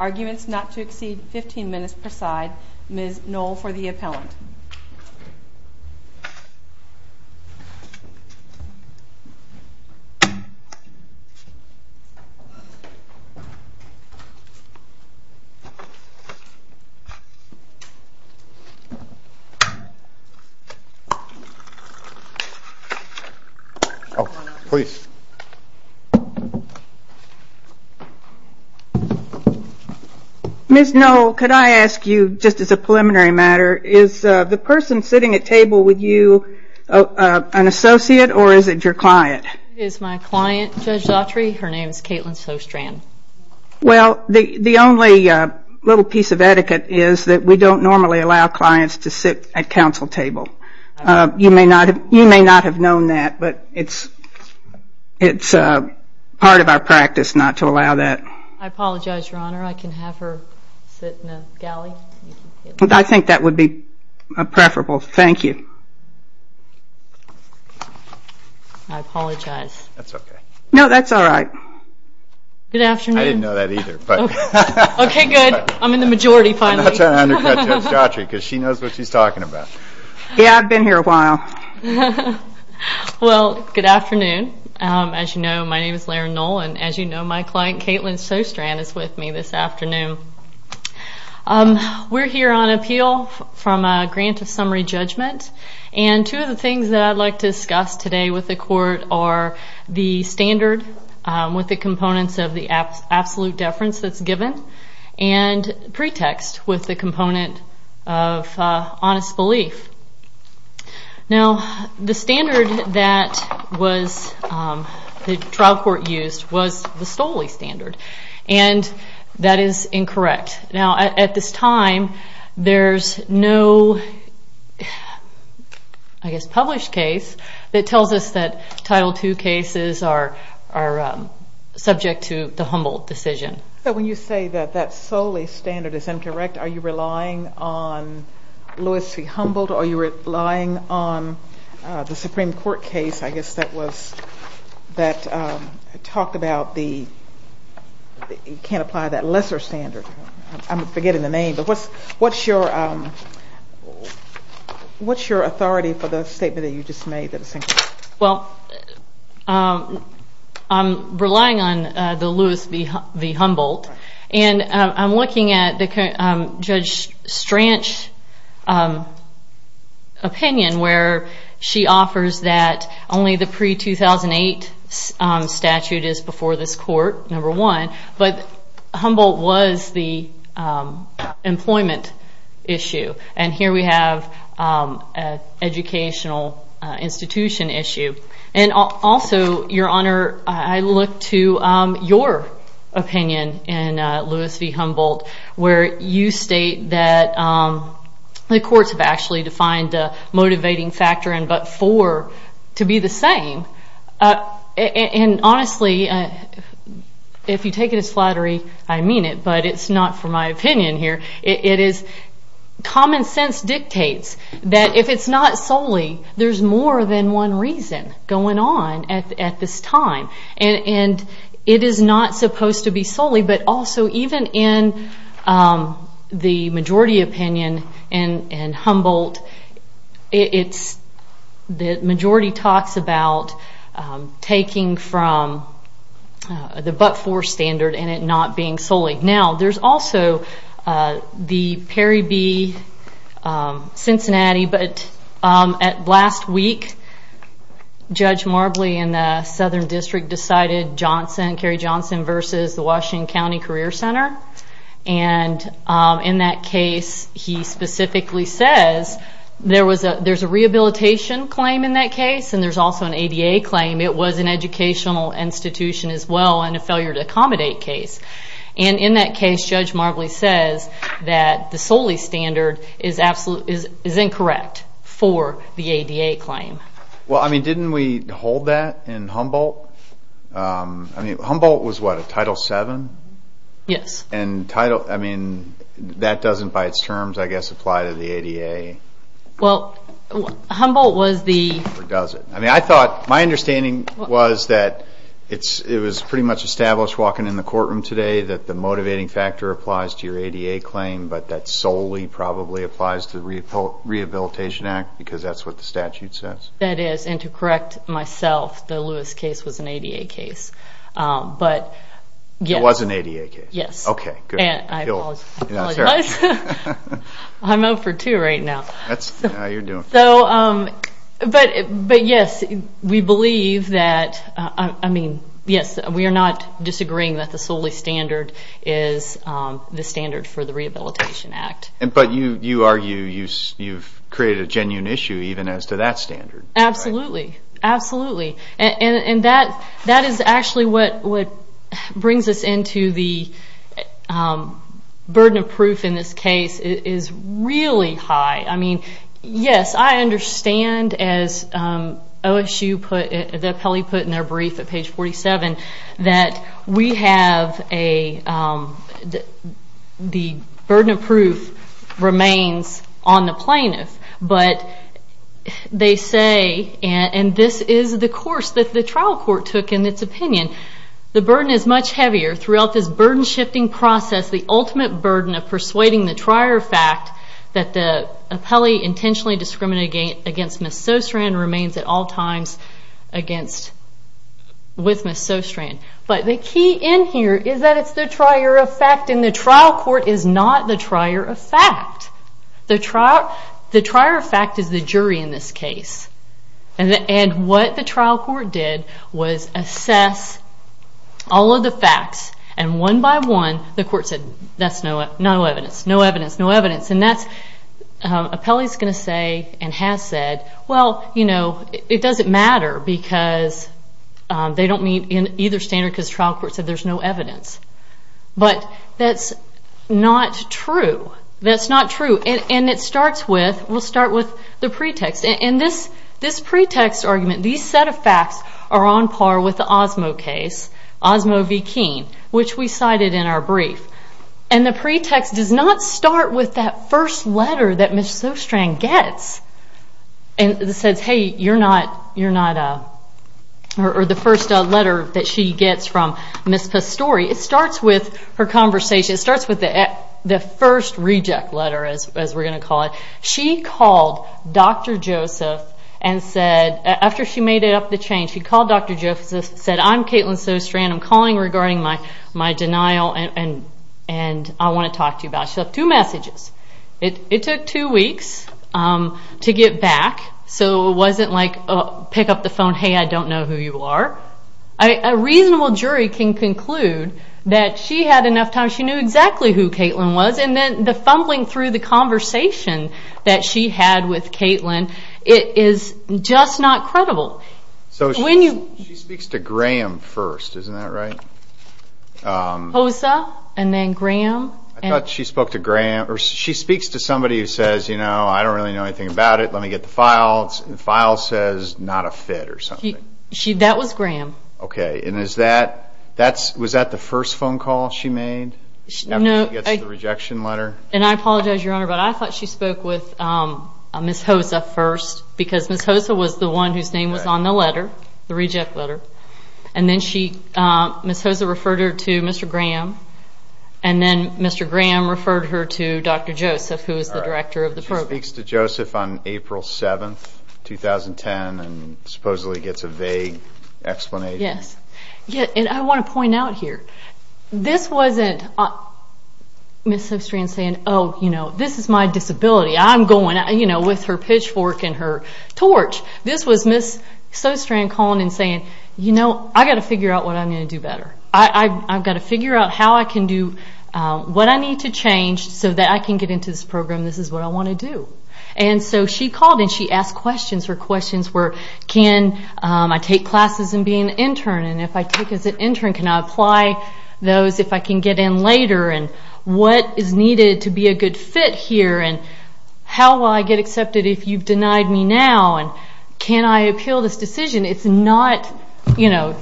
Arguments not to exceed 15 minutes per side. Ms. Knoll for the appellant. Ms. Knoll, could I ask you, just as a preliminary matter, is the person sitting at table with you an associate or is it your client? It is my client, Judge Autry. Her name is Caitlin Sjostrand. Well, the only little piece of etiquette is that we don't normally allow clients to sit at counsel table. You may not have known that, but it's part of our practice not to allow that. I apologize, Your Honor. I can have her sit in the galley. I think that would be preferable. Thank you. I apologize. That's okay. No, that's all right. Good afternoon. I didn't know that either. Okay, good. I'm in the majority, finally. I'm not trying to undercut Judge Autry because she knows what she's talking about. Yeah, I've been here a while. Well, good afternoon. As you know, my name is Laird Knoll, and as you know, my client, Caitlin Sjostrand, is with me this afternoon. We're here on appeal from a grant of summary judgment, and two of the things that I'd like to discuss today with the court are the standard with the components of the absolute deference that's given, and pretext with the component of honest belief. Now, the standard that the trial court used was the Stolle standard, and that is incorrect. Now, at this time, there's no, I guess, published case that tells us that Title II cases are subject to the Humboldt decision. So when you say that that Stolle standard is incorrect, are you relying on Lewis v. Humboldt, or are you relying on the Supreme Court case, I guess that was, that talked about the, you can't apply that lesser standard. I'm forgetting the name, but what's your authority for the statement that you just made? Well, I'm relying on the Lewis v. Humboldt, and I'm looking at Judge Stranch's opinion where she offers that only the pre-2008 statute is before this court, number one, but Humboldt was the employment issue, and here we have an educational institution issue. And also, Your Honor, I look to your opinion in Lewis v. Humboldt, where you state that the courts have actually defined a motivating factor in but four to be the same. And honestly, if you take it as flattery, I mean it, but it's not for my opinion here. Common sense dictates that if it's not Stolle, there's more than one reason going on at this time, and it is not supposed to be Stolle, but also even in the majority opinion in Humboldt, the majority talks about taking from the but four standard and it not being Stolle. Now, there's also the Perry v. Cincinnati, but at last week, Judge Marbley in the Southern District decided Johnson, Kerry Johnson v. the Washington County Career Center, and in that case, he specifically says there's a rehabilitation claim in that case, and there's also an ADA claim. It was an educational institution as well, and a failure to accommodate case. And in that case, Judge Marbley says that the Stolle standard is incorrect for the ADA claim. Well, I mean, didn't we hold that in Humboldt? I mean, Humboldt was what, a Title VII? Yes. And Title, I mean, that doesn't by its terms, I guess, apply to the ADA. Well, Humboldt was the... Or does it? I mean, I thought, my understanding was that it was pretty much established walking in the courtroom today that the motivating factor applies to your ADA claim, but that solely probably applies to the Rehabilitation Act, because that's what the statute says. That is, and to correct myself, the Lewis case was an ADA case, but... It was an ADA case. Yes. Okay, good. And I apologize. I'm up for two right now. That's how you're doing. But yes, we believe that, I mean, yes, we are not disagreeing that the Stolle standard is the standard for the Rehabilitation Act. But you argue you've created a genuine issue even as to that standard. Absolutely, absolutely. And that is actually what brings us into the burden of proof in this case is really high. I mean, yes, I understand as OSU put, the appellee put in their brief at page 47, that we have a, the burden of proof remains on the plaintiff, but they say, and this is the course that the trial court took in its opinion, the burden is much heavier throughout this burden-shifting process, the ultimate burden of persuading the trier of fact that the appellee intentionally discriminated against Ms. Sostrand remains at all times against, with Ms. Sostrand. But the key in here is that it's the trier of fact, and the trial court is not the trier of fact. The trier of fact is the jury in this case. And what the trial court did was assess all of the facts, and one by one the court said, that's no evidence, no evidence, no evidence. And that's, appellee is going to say and has said, well, you know, it doesn't matter because they don't meet either standard because the trial court said there's no evidence. But that's not true. That's not true. And this pretext argument, these set of facts are on par with the Osmo case, Osmo v. Keene, which we cited in our brief. And the pretext does not start with that first letter that Ms. Sostrand gets and says, hey, you're not, or the first letter that she gets from Ms. Pastore. It starts with her conversation. It starts with the first reject letter, as we're going to call it. She called Dr. Joseph and said, after she made it up the chain, she called Dr. Joseph and said, I'm Caitlin Sostrand, I'm calling regarding my denial and I want to talk to you about it. She left two messages. It took two weeks to get back, so it wasn't like pick up the phone, hey, I don't know who you are. A reasonable jury can conclude that she had enough time, she knew exactly who Caitlin was, and then the fumbling through the conversation that she had with Caitlin, it is just not credible. She speaks to Graham first, isn't that right? Hosa and then Graham. I thought she spoke to Graham, or she speaks to somebody who says, you know, I don't really know anything about it, let me get the file. The file says not a fit or something. That was Graham. Okay, and is that, was that the first phone call she made? After she gets the rejection letter? And I apologize, Your Honor, but I thought she spoke with Ms. Hosa first, because Ms. Hosa was the one whose name was on the letter, the reject letter, and then Ms. Hosa referred her to Mr. Graham, and then Mr. Graham referred her to Dr. Joseph, who is the director of the program. She speaks to Joseph on April 7, 2010, and supposedly gets a vague explanation. Yes, and I want to point out here, this wasn't Ms. Sostrand saying, oh, you know, this is my disability, I'm going with her pitchfork and her torch. This was Ms. Sostrand calling and saying, you know, I've got to figure out what I'm going to do better. I've got to figure out how I can do what I need to change so that I can get into this program, this is what I want to do. And so she called and she asked questions, her questions were, can I take classes and be an intern, and if I take as an intern, can I apply those if I can get in later, and what is needed to be a good fit here, and how will I get accepted if you've denied me now, and can I appeal this decision? It's not, you know,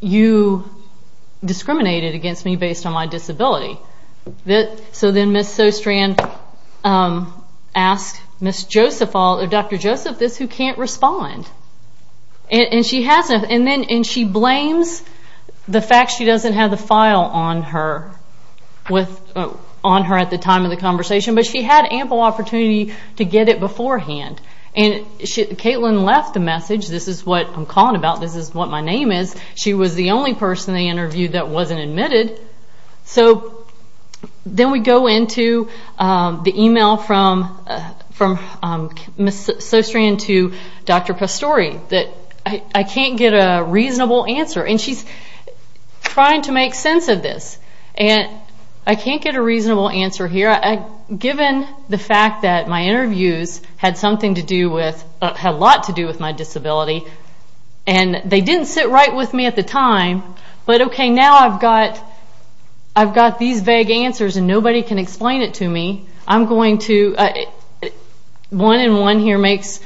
you discriminated against me based on my disability. So then Ms. Sostrand asked Dr. Joseph this, who can't respond. And she hasn't, and she blames the fact she doesn't have the file on her at the time of the conversation, but she had ample opportunity to get it beforehand. And Caitlin left a message, this is what I'm calling about, this is what my name is, she was the only person they interviewed that wasn't admitted. So then we go into the email from Ms. Sostrand to Dr. Pastore, that I can't get a reasonable answer, and she's trying to make sense of this, and I can't get a reasonable answer here, given the fact that my interviews had something to do with, had a lot to do with my disability, and they didn't sit right with me at the time, but okay, now I've got these vague answers, and nobody can explain it to me, I'm going to, one and one here makes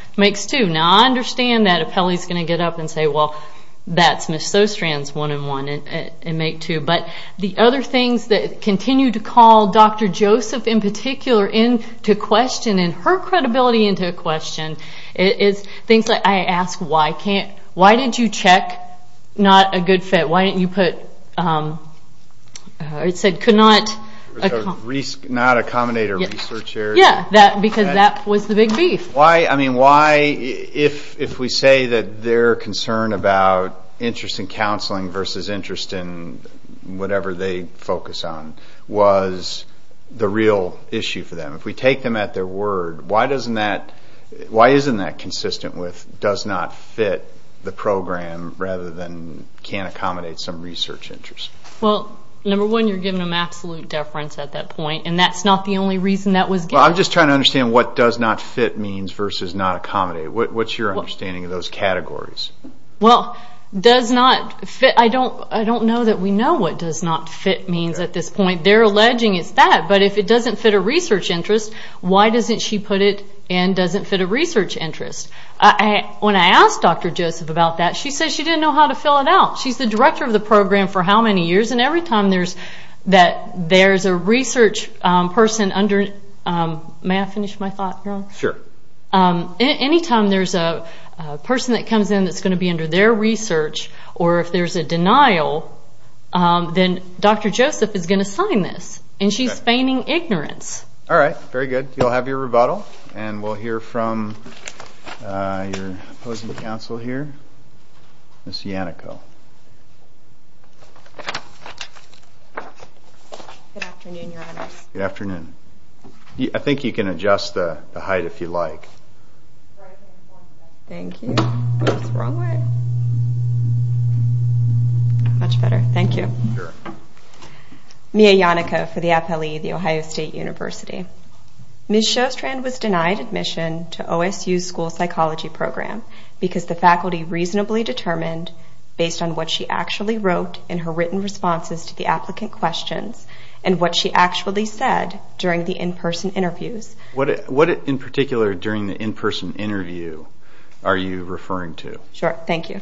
two. Now I understand that if Kelly's going to get up and say, well, that's Ms. Sostrand's one and one, and make two, but the other things that continue to call Dr. Joseph in particular into question, and her credibility into question, things that I ask, why can't, why did you check not a good fit, why didn't you put, it said could not... Not accommodate a research area. Yeah, because that was the big beef. Why, if we say that their concern about interest in counseling versus interest in whatever they focus on, was the real issue for them. If we take them at their word, why doesn't that, why isn't that consistent with does not fit the program, rather than can't accommodate some research interest. Well, number one, you're giving them absolute deference at that point, and that's not the only reason that was given. Well, I'm just trying to understand what does not fit means versus not accommodate. What's your understanding of those categories? Well, does not fit, I don't know that we know what does not fit means at this point. They're alleging it's that, but if it doesn't fit a research interest, why doesn't she put it and doesn't fit a research interest? When I asked Dr. Joseph about that, she said she didn't know how to fill it out. She's the director of the program for how many years, and every time there's a research person under, may I finish my thought, Jerome? Sure. Any time there's a person that comes in that's going to be under their research, or if there's a denial, then Dr. Joseph is going to sign this, and she's feigning ignorance. All right, very good. You'll have your rebuttal, and we'll hear from your opposing counsel here, Ms. Yannico. Good afternoon, Your Honors. Good afternoon. I think you can adjust the height if you like. Thank you. Is this the wrong way? Much better. Thank you. Sure. Mia Yannico for the Appellee of The Ohio State University. Ms. Shostrand was denied admission to OSU's School Psychology Program because the faculty reasonably determined, based on what she actually wrote in her written responses to the applicant questions, and what she actually said during the in-person interviews. What in particular during the in-person interview are you referring to? Sure, thank you.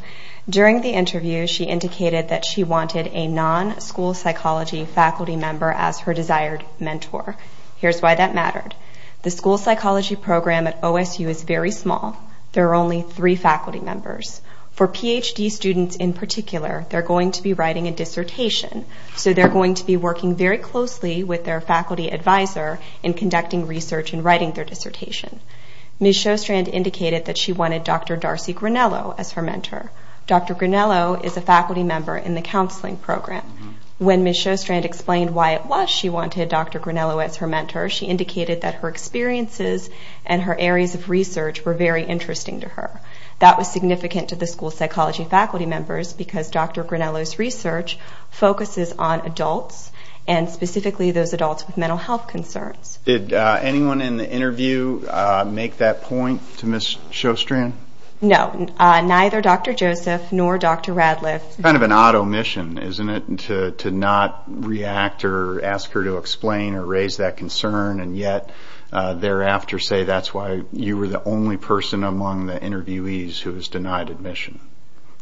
During the interview, she indicated that she wanted a non-school psychology faculty member as her desired mentor. Here's why that mattered. The School Psychology Program at OSU is very small. There are only three faculty members. For PhD students in particular, they're going to be writing a dissertation, so they're going to be working very closely with their faculty advisor in conducting research and writing their dissertation. Ms. Shostrand indicated that she wanted Dr. Darcy Grinello as her mentor. Dr. Grinello is a faculty member in the counseling program. When Ms. Shostrand explained why it was she wanted Dr. Grinello as her mentor, she indicated that her experiences and her areas of research were very interesting to her. That was significant to the School Psychology faculty members because Dr. Grinello's research focuses on adults, and specifically those adults with mental health concerns. Did anyone in the interview make that point to Ms. Shostrand? No, neither Dr. Joseph nor Dr. Radliff. It's kind of an odd omission, isn't it, to not react or ask her to explain or raise that concern and yet thereafter say that's why you were the only person among the interviewees who was denied admission,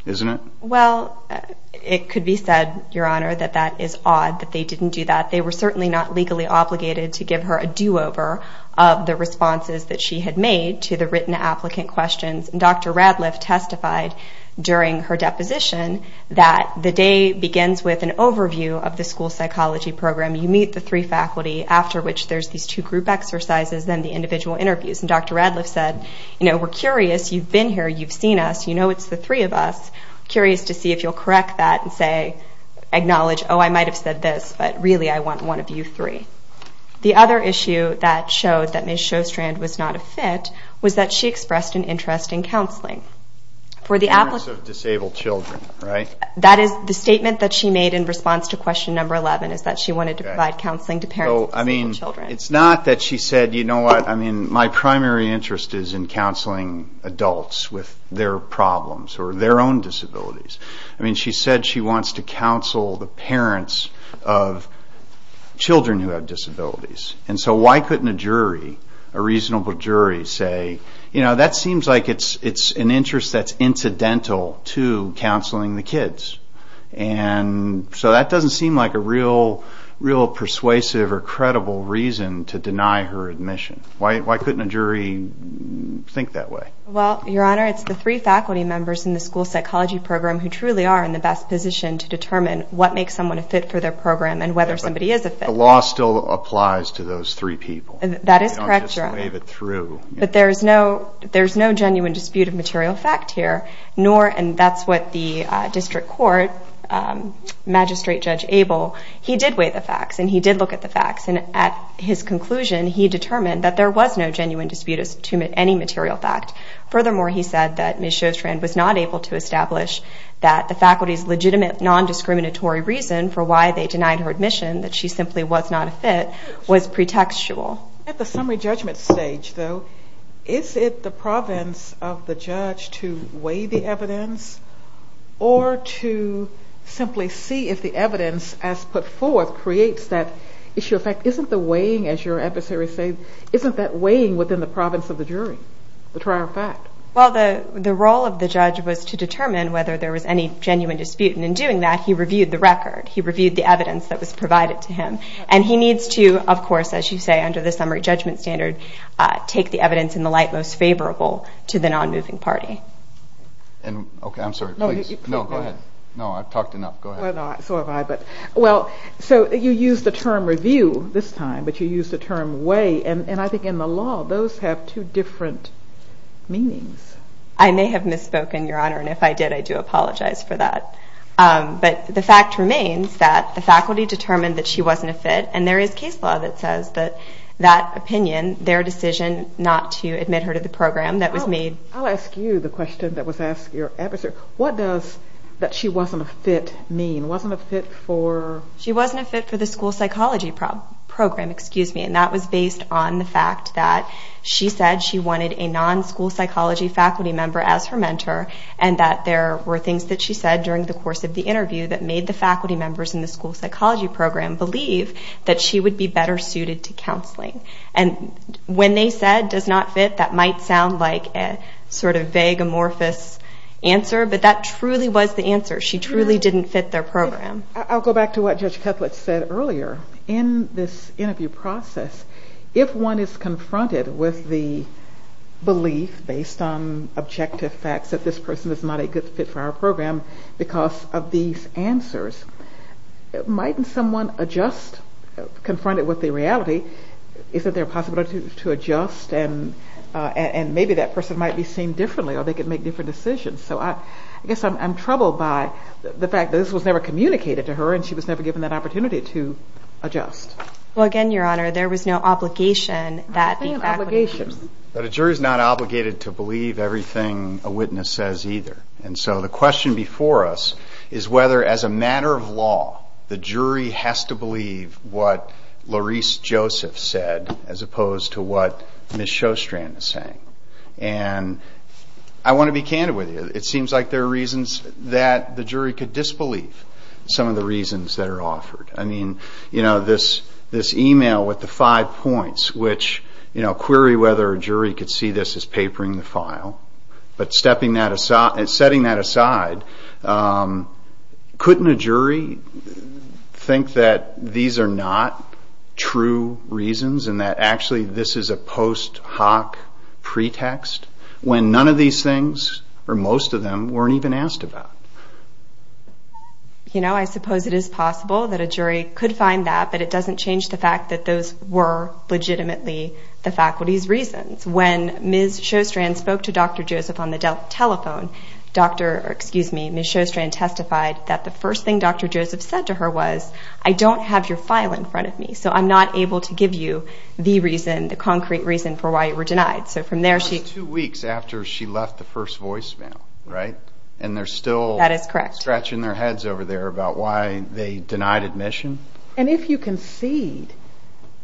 isn't it? Well, it could be said, Your Honor, that that is odd that they didn't do that. They were certainly not legally obligated to give her a do-over of the responses that she had made to the written applicant questions. Dr. Radliff testified during her deposition that the day begins with an overview of the School Psychology program. You meet the three faculty, after which there's these two group exercises and then the individual interviews. Dr. Radliff said, you know, we're curious. You've been here. You've seen us. You know it's the three of us. Curious to see if you'll correct that and say, acknowledge, oh, I might have said this, but really I want one of you three. The other issue that showed that Ms. Shostrand was not a fit was that she expressed an interest in counseling. Parents of disabled children, right? That is the statement that she made in response to question number 11 is that she wanted to provide counseling to parents of disabled children. It's not that she said, you know what, my primary interest is in counseling adults with their problems or their own disabilities. I mean, she said she wants to counsel the parents of children who have disabilities. And so why couldn't a jury, a reasonable jury, say, you know, that seems like it's an interest that's incidental to counseling the kids. And so that doesn't seem like a real persuasive or credible reason to deny her admission. Why couldn't a jury think that way? Well, Your Honor, it's the three faculty members in the school psychology program who truly are in the best position to determine what makes someone a fit for their program and whether somebody is a fit. But the law still applies to those three people. That is correct, Your Honor. We don't just wave it through. But there's no genuine dispute of material fact here, nor, and that's what the district court magistrate, Judge Abel, he did weigh the facts, and he did look at the facts, and at his conclusion, he determined that there was no genuine dispute to any material fact. Furthermore, he said that Ms. Shostrand was not able to establish that the faculty's legitimate nondiscriminatory reason for why they denied her admission, that she simply was not a fit, was pretextual. At the summary judgment stage, though, is it the province of the judge to weigh the evidence or to simply see if the evidence as put forth creates that issue? In fact, isn't the weighing, as your adversaries say, isn't that weighing within the province of the jury, the trial fact? Well, the role of the judge was to determine whether there was any genuine dispute, and in doing that, he reviewed the record. He reviewed the evidence that was provided to him. And he needs to, of course, as you say, under the summary judgment standard, take the evidence in the light most favorable to the nonmoving party. Okay, I'm sorry. Please. No, go ahead. No, I've talked enough. Go ahead. So have I, but, well, so you used the term review this time, but you used the term weigh, and I think in the law, those have two different meanings. I may have misspoken, Your Honor, and if I did, I do apologize for that. But the fact remains that the faculty determined that she wasn't a fit, and there is case law that says that that opinion, their decision not to admit her to the program that was made. I'll ask you the question that was asked your adversary. What does that she wasn't a fit mean? Wasn't a fit for? She wasn't a fit for the school psychology program, and that was based on the fact that she said she wanted a non-school psychology faculty member as her mentor and that there were things that she said during the course of the interview that made the faculty members in the school psychology program believe that she would be better suited to counseling. And when they said does not fit, that might sound like a sort of vague, amorphous answer, but that truly was the answer. She truly didn't fit their program. I'll go back to what Judge Ketlet said earlier. In this interview process, if one is confronted with the belief based on objective facts that this person is not a good fit for our program because of these answers, might someone adjust, confronted with the reality, isn't there a possibility to adjust, and maybe that person might be seen differently or they could make different decisions. So I guess I'm troubled by the fact that this was never communicated to her and she was never given that opportunity to adjust. Well, again, Your Honor, there was no obligation that the faculty members... But a jury is not obligated to believe everything a witness says either. And so the question before us is whether, as a matter of law, the jury has to believe what Lorese Joseph said as opposed to what Ms. Sjostrand is saying. And I want to be candid with you. It seems like there are reasons that the jury could disbelieve some of the reasons that are offered. I mean, you know, this email with the five points, which query whether a jury could see this as papering the file, but setting that aside, couldn't a jury think that these are not true reasons and that actually this is a post hoc pretext when none of these things, or most of them, weren't even asked about? You know, I suppose it is possible that a jury could find that, but it doesn't change the fact that those were legitimately the faculty's reasons. When Ms. Sjostrand spoke to Dr. Joseph on the telephone, Ms. Sjostrand testified that the first thing Dr. Joseph said to her was, I don't have your file in front of me, so I'm not able to give you the reason, the concrete reason for why you were denied. So from there she... It was two weeks after she left the first voicemail, right? And they're still... That is correct. ...stretching their heads over there about why they denied admission. And if you concede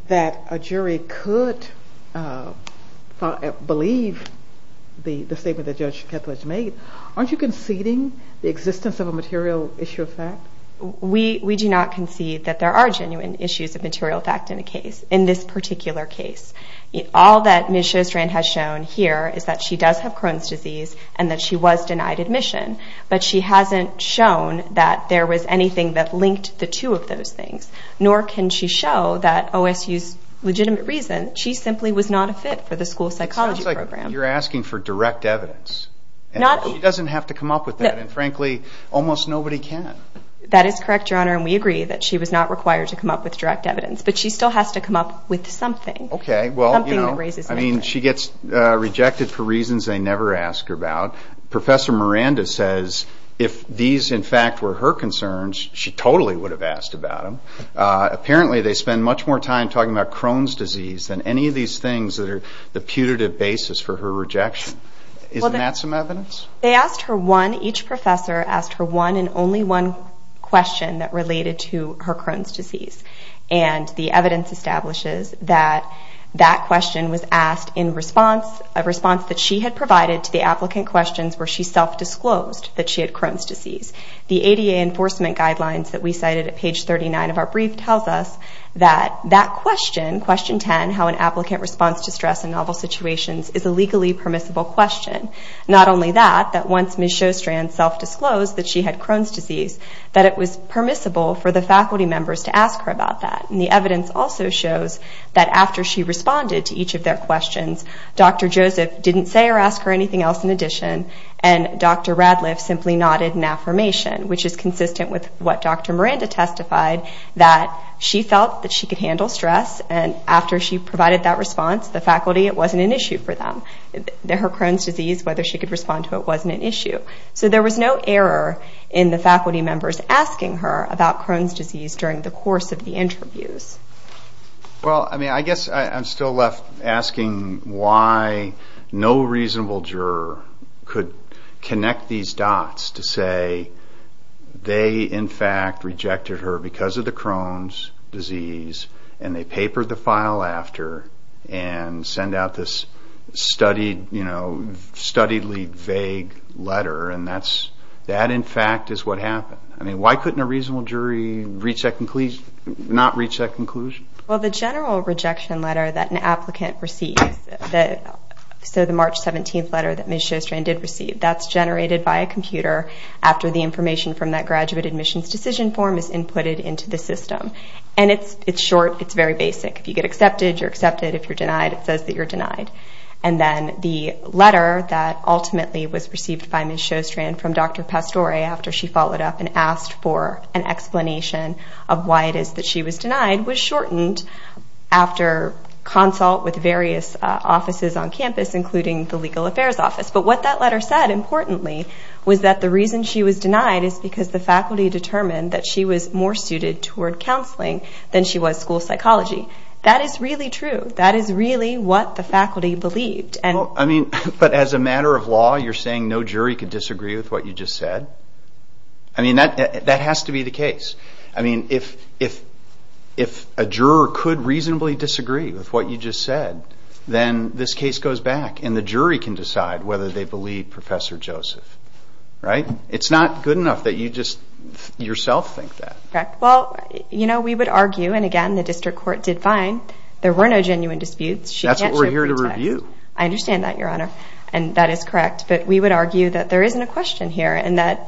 that a jury could believe the statement that Judge Kepler has made, aren't you conceding the existence of a material issue of fact? We do not concede that there are genuine issues of material fact in a case, in this particular case. All that Ms. Sjostrand has shown here is that she does have Crohn's disease and that she was denied admission, but she hasn't shown that there was anything that linked the two of those things, nor can she show that OSU's legitimate reason, she simply was not a fit for the school psychology program. You're asking for direct evidence. She doesn't have to come up with that, and frankly, almost nobody can. That is correct, Your Honor, and we agree that she was not required to come up with direct evidence, but she still has to come up with something. Okay. Something that raises... I mean, she gets rejected for reasons they never ask her about. Professor Miranda says if these, in fact, were her concerns, she totally would have asked about them. Apparently they spend much more time talking about Crohn's disease than any of these things that are the putative basis for her rejection. Isn't that some evidence? They asked her one, each professor asked her one and only one question that related to her Crohn's disease, and the evidence establishes that that question was asked in response, a response that she had provided to the applicant questions where she self-disclosed that she had Crohn's disease. The ADA enforcement guidelines that we cited at page 39 of our brief tells us that that question, question 10, how an applicant responds to stress in novel situations, is a legally permissible question. Not only that, that once Ms. Sjostrand self-disclosed that she had Crohn's disease, that it was permissible for the faculty members to ask her about that. And the evidence also shows that after she responded to each of their questions, Dr. Joseph didn't say or ask her anything else in addition, and Dr. Radliff simply nodded in affirmation, which is consistent with what Dr. Miranda testified, that she felt that she could handle stress, and after she provided that response, the faculty, it wasn't an issue for them. Her Crohn's disease, whether she could respond to it wasn't an issue. So there was no error in the faculty members asking her about Crohn's disease during the course of the interviews. Well, I mean, I guess I'm still left asking why no reasonable juror could connect these dots to say they, in fact, rejected her because of the Crohn's disease, and they papered the file after, and send out this studiedly vague letter, and that, in fact, is what happened. I mean, why couldn't a reasonable jury not reach that conclusion? Well, the general rejection letter that an applicant receives, so the March 17th letter that Ms. Sjostrand did receive, that's generated by a computer after the information from that graduate admissions decision form is inputted into the system. And it's short. It's very basic. If you get accepted, you're accepted. If you're denied, it says that you're denied. And then the letter that ultimately was received by Ms. Sjostrand from Dr. Pastore after she followed up and asked for an explanation of why it is that she was denied was shortened after consult with various offices on campus, including the Legal Affairs Office. But what that letter said, importantly, was that the reason she was denied is because the faculty determined that she was more suited toward counseling than she was school psychology. That is really true. That is really what the faculty believed. Well, I mean, but as a matter of law, you're saying no jury could disagree with what you just said? I mean, that has to be the case. I mean, if a juror could reasonably disagree with what you just said, then this case goes back, and the jury can decide whether they believe Professor Joseph, right? It's not good enough that you just yourself think that. Well, you know, we would argue, and again, the district court did fine. There were no genuine disputes. That's what we're here to review. I understand that, Your Honor, and that is correct. But we would argue that there isn't a question here and that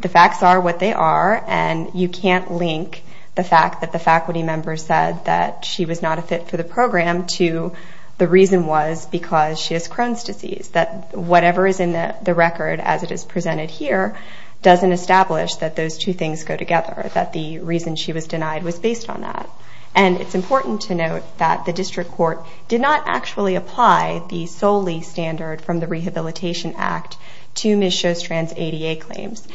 the facts are what they are, and you can't link the fact that the faculty member said that she was not a fit for the program to the reason was because she has Crohn's disease, that whatever is in the record as it is presented here doesn't establish that those two things go together, that the reason she was denied was based on that. And it's important to note that the district court did not actually apply the Soli standard from the Rehabilitation Act to Ms. Shostrand's ADA claims.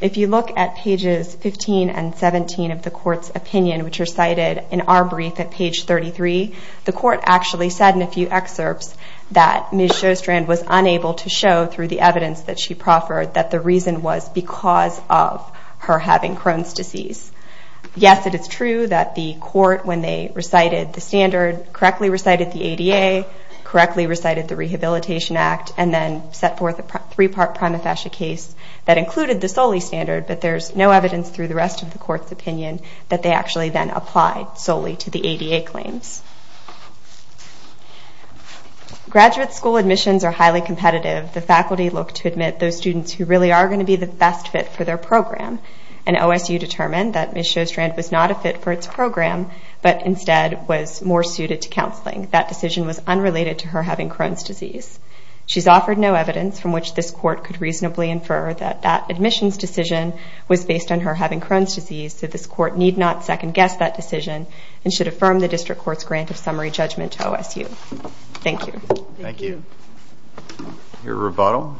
If you look at pages 15 and 17 of the court's opinion, which are cited in our brief at page 33, the court actually said in a few excerpts that Ms. Shostrand was unable to show through the evidence that she proffered that the reason was because of her having Crohn's disease. Yes, it is true that the court, when they recited the standard, correctly recited the ADA, correctly recited the Rehabilitation Act, and then set forth a three-part prima facie case that included the Soli standard, but there's no evidence through the rest of the court's opinion that they actually then applied Soli to the ADA claims. Graduate school admissions are highly competitive. The faculty look to admit those students who really are going to be the best fit for their program, and OSU determined that Ms. Shostrand was not a fit for its program, but instead was more suited to counseling. That decision was unrelated to her having Crohn's disease. She's offered no evidence from which this court could reasonably infer that that admissions decision was based on her having Crohn's disease, so this court need not second-guess that decision and should affirm the district court's grant of summary judgment to OSU. Thank you. Thank you. Your rebuttal.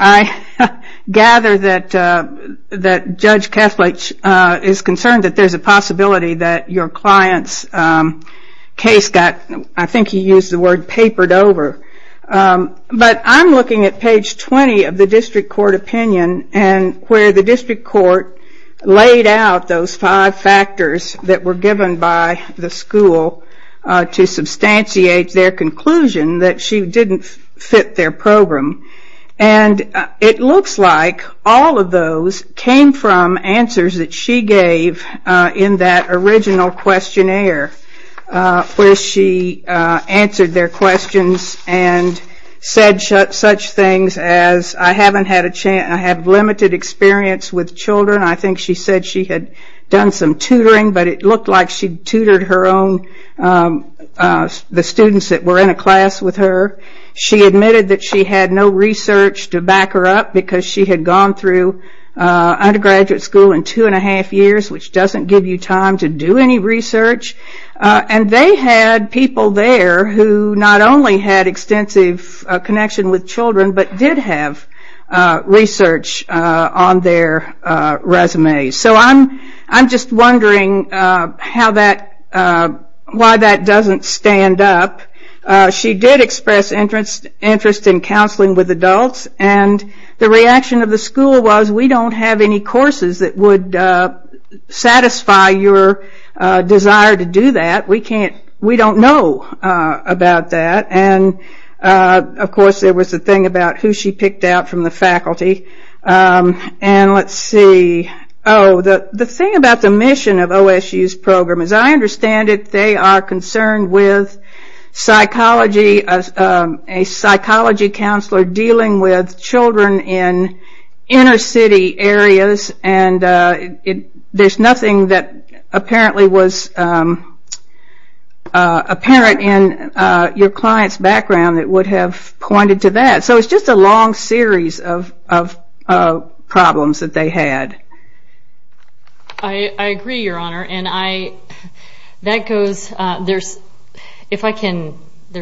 I gather that Judge Kethledge is concerned that there's a possibility that your client's case got, I think he used the word, papered over. But I'm looking at page 20 of the district court opinion where the district court laid out those five factors that were given by the school to substantiate their conclusion that she didn't fit their program. And it looks like all of those came from answers that she gave in that original questionnaire where she answered their questions and said such things as, I have limited experience with children. I think she said she had done some tutoring, but it looked like she tutored her own, the students that were in a class with her. She admitted that she had no research to back her up because she had gone through undergraduate school in two and a half years, which doesn't give you time to do any research. And they had people there who not only had extensive connection with children, but did have research on their resumes. So I'm just wondering why that doesn't stand up. She did express interest in counseling with adults. And the reaction of the school was, we don't have any courses that would satisfy your desire to do that. We don't know about that. And, of course, there was the thing about who she picked out from the faculty. And let's see. Oh, the thing about the mission of OSU's program, as I understand it, they are concerned with a psychology counselor dealing with children in inner city areas. And there's nothing that apparently was apparent in your client's background that would have pointed to that. So it's just a long series of problems that they had. I agree, Your Honor. And there's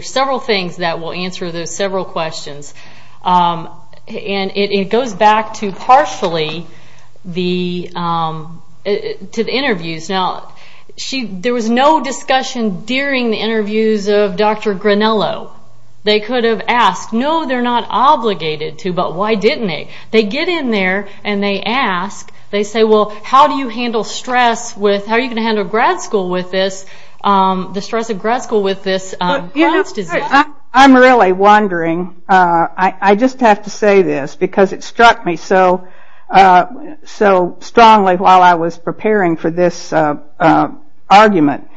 several things that will answer those several questions. And it goes back to partially to the interviews. Now, there was no discussion during the interviews of Dr. Granello. They could have asked, no, they're not obligated to, but why didn't they? They get in there and they ask. They say, well, how do you handle stress with, how are you going to handle grad school with this, the stress of grad school with this bruise disease? I'm really wondering. I just have to say this because it struck me so strongly while I was preparing for this argument.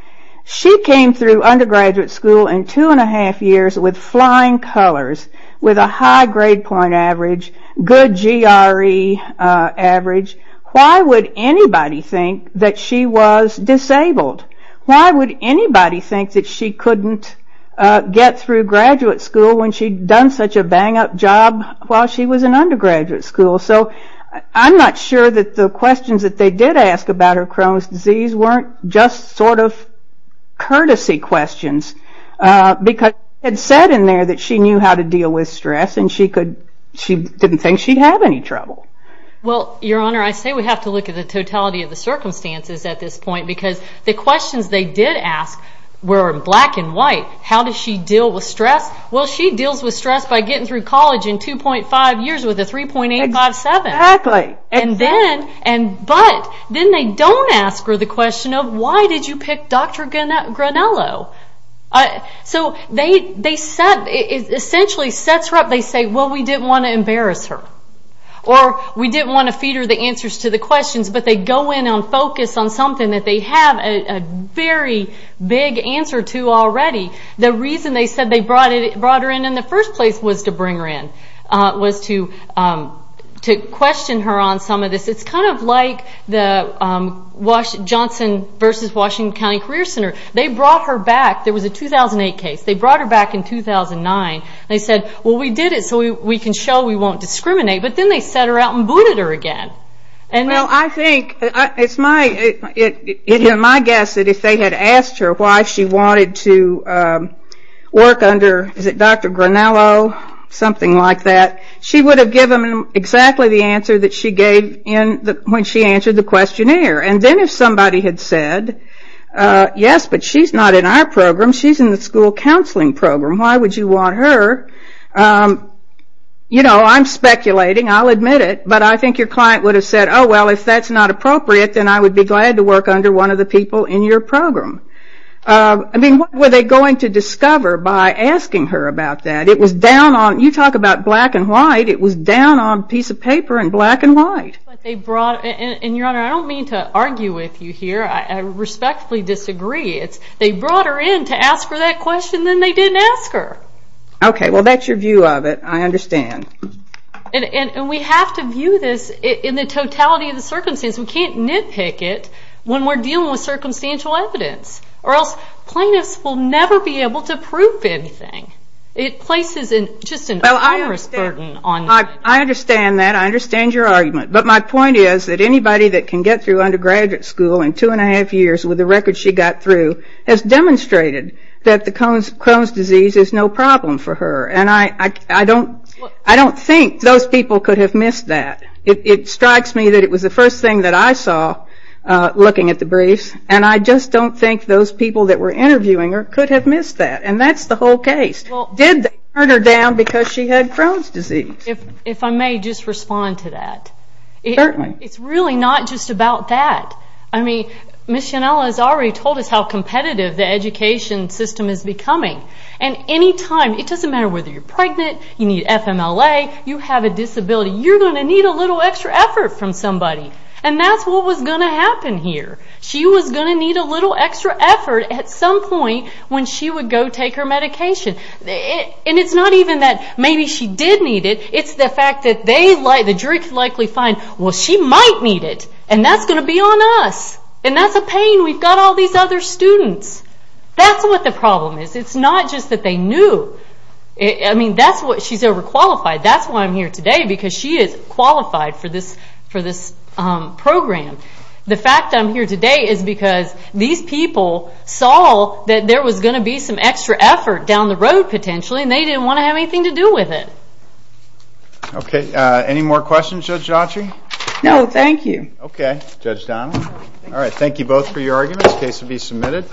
She came through undergraduate school in two and a half years with flying colors, with a high grade point average, good GRE average. Why would anybody think that she was disabled? Why would anybody think that she couldn't get through graduate school when she'd done such a bang up job while she was in undergraduate school? So I'm not sure that the questions that they did ask about her Crohn's disease weren't just sort of courtesy questions because it said in there that she knew how to deal with stress and she didn't think she'd have any trouble. Well, Your Honor, I say we have to look at the totality of the circumstances at this point because the questions they did ask were black and white. How does she deal with stress? Well, she deals with stress by getting through college in 2.5 years with a 3.857. Exactly. But then they don't ask her the question of why did you pick Dr. Granello? So they essentially set her up. They say, well, we didn't want to embarrass her or we didn't want to feed her the answers to the questions, but they go in and focus on something that they have a very big answer to already. The reason they said they brought her in in the first place was to bring her in, was to question her on some of this. It's kind of like the Johnson v. Washington County Career Center. They brought her back. There was a 2008 case. They brought her back in 2009. They said, well, we did it so we can show we won't discriminate, but then they set her out and booted her again. Well, I think it's my guess that if they had asked her why she wanted to work under Dr. Granello, something like that, she would have given them exactly the answer that she gave when she answered the questionnaire. And then if somebody had said, yes, but she's not in our program. She's in the school counseling program. Why would you want her? You know, I'm speculating. I'll admit it. But I think your client would have said, oh, well, if that's not appropriate, then I would be glad to work under one of the people in your program. I mean, what were they going to discover by asking her about that? You talk about black and white. It was down on a piece of paper in black and white. And, Your Honor, I don't mean to argue with you here. I respectfully disagree. They brought her in to ask her that question, and then they didn't ask her. Okay, well, that's your view of it. I understand. And we have to view this in the totality of the circumstance. We can't nitpick it when we're dealing with circumstantial evidence, or else plaintiffs will never be able to prove anything. It places just an onerous burden on them. I understand that. I understand your argument. But my point is that anybody that can get through undergraduate school in two and a half years with the record she got through has demonstrated that the Crohn's disease is no problem for her. And I don't think those people could have missed that. It strikes me that it was the first thing that I saw looking at the briefs, and I just don't think those people that were interviewing her could have missed that. And that's the whole case. Did they turn her down because she had Crohn's disease? If I may just respond to that. Certainly. It's really not just about that. I mean, Ms. Schinella has already told us how competitive the education system is becoming. And any time, it doesn't matter whether you're pregnant, you need FMLA, you have a disability, you're going to need a little extra effort from somebody. And that's what was going to happen here. She was going to need a little extra effort at some point when she would go take her medication. And it's not even that maybe she did need it. It's the fact that the jury could likely find, well, she might need it. And that's going to be on us. And that's a pain. We've got all these other students. That's what the problem is. It's not just that they knew. I mean, she's overqualified. That's why I'm here today, because she is qualified for this program. The fact that I'm here today is because these people saw that there was going to be some extra effort down the road, potentially, and they didn't want to have anything to do with it. Okay. Any more questions, Judge Autry? No, thank you. Okay, Judge Donald. All right, thank you both for your arguments. The case will be submitted.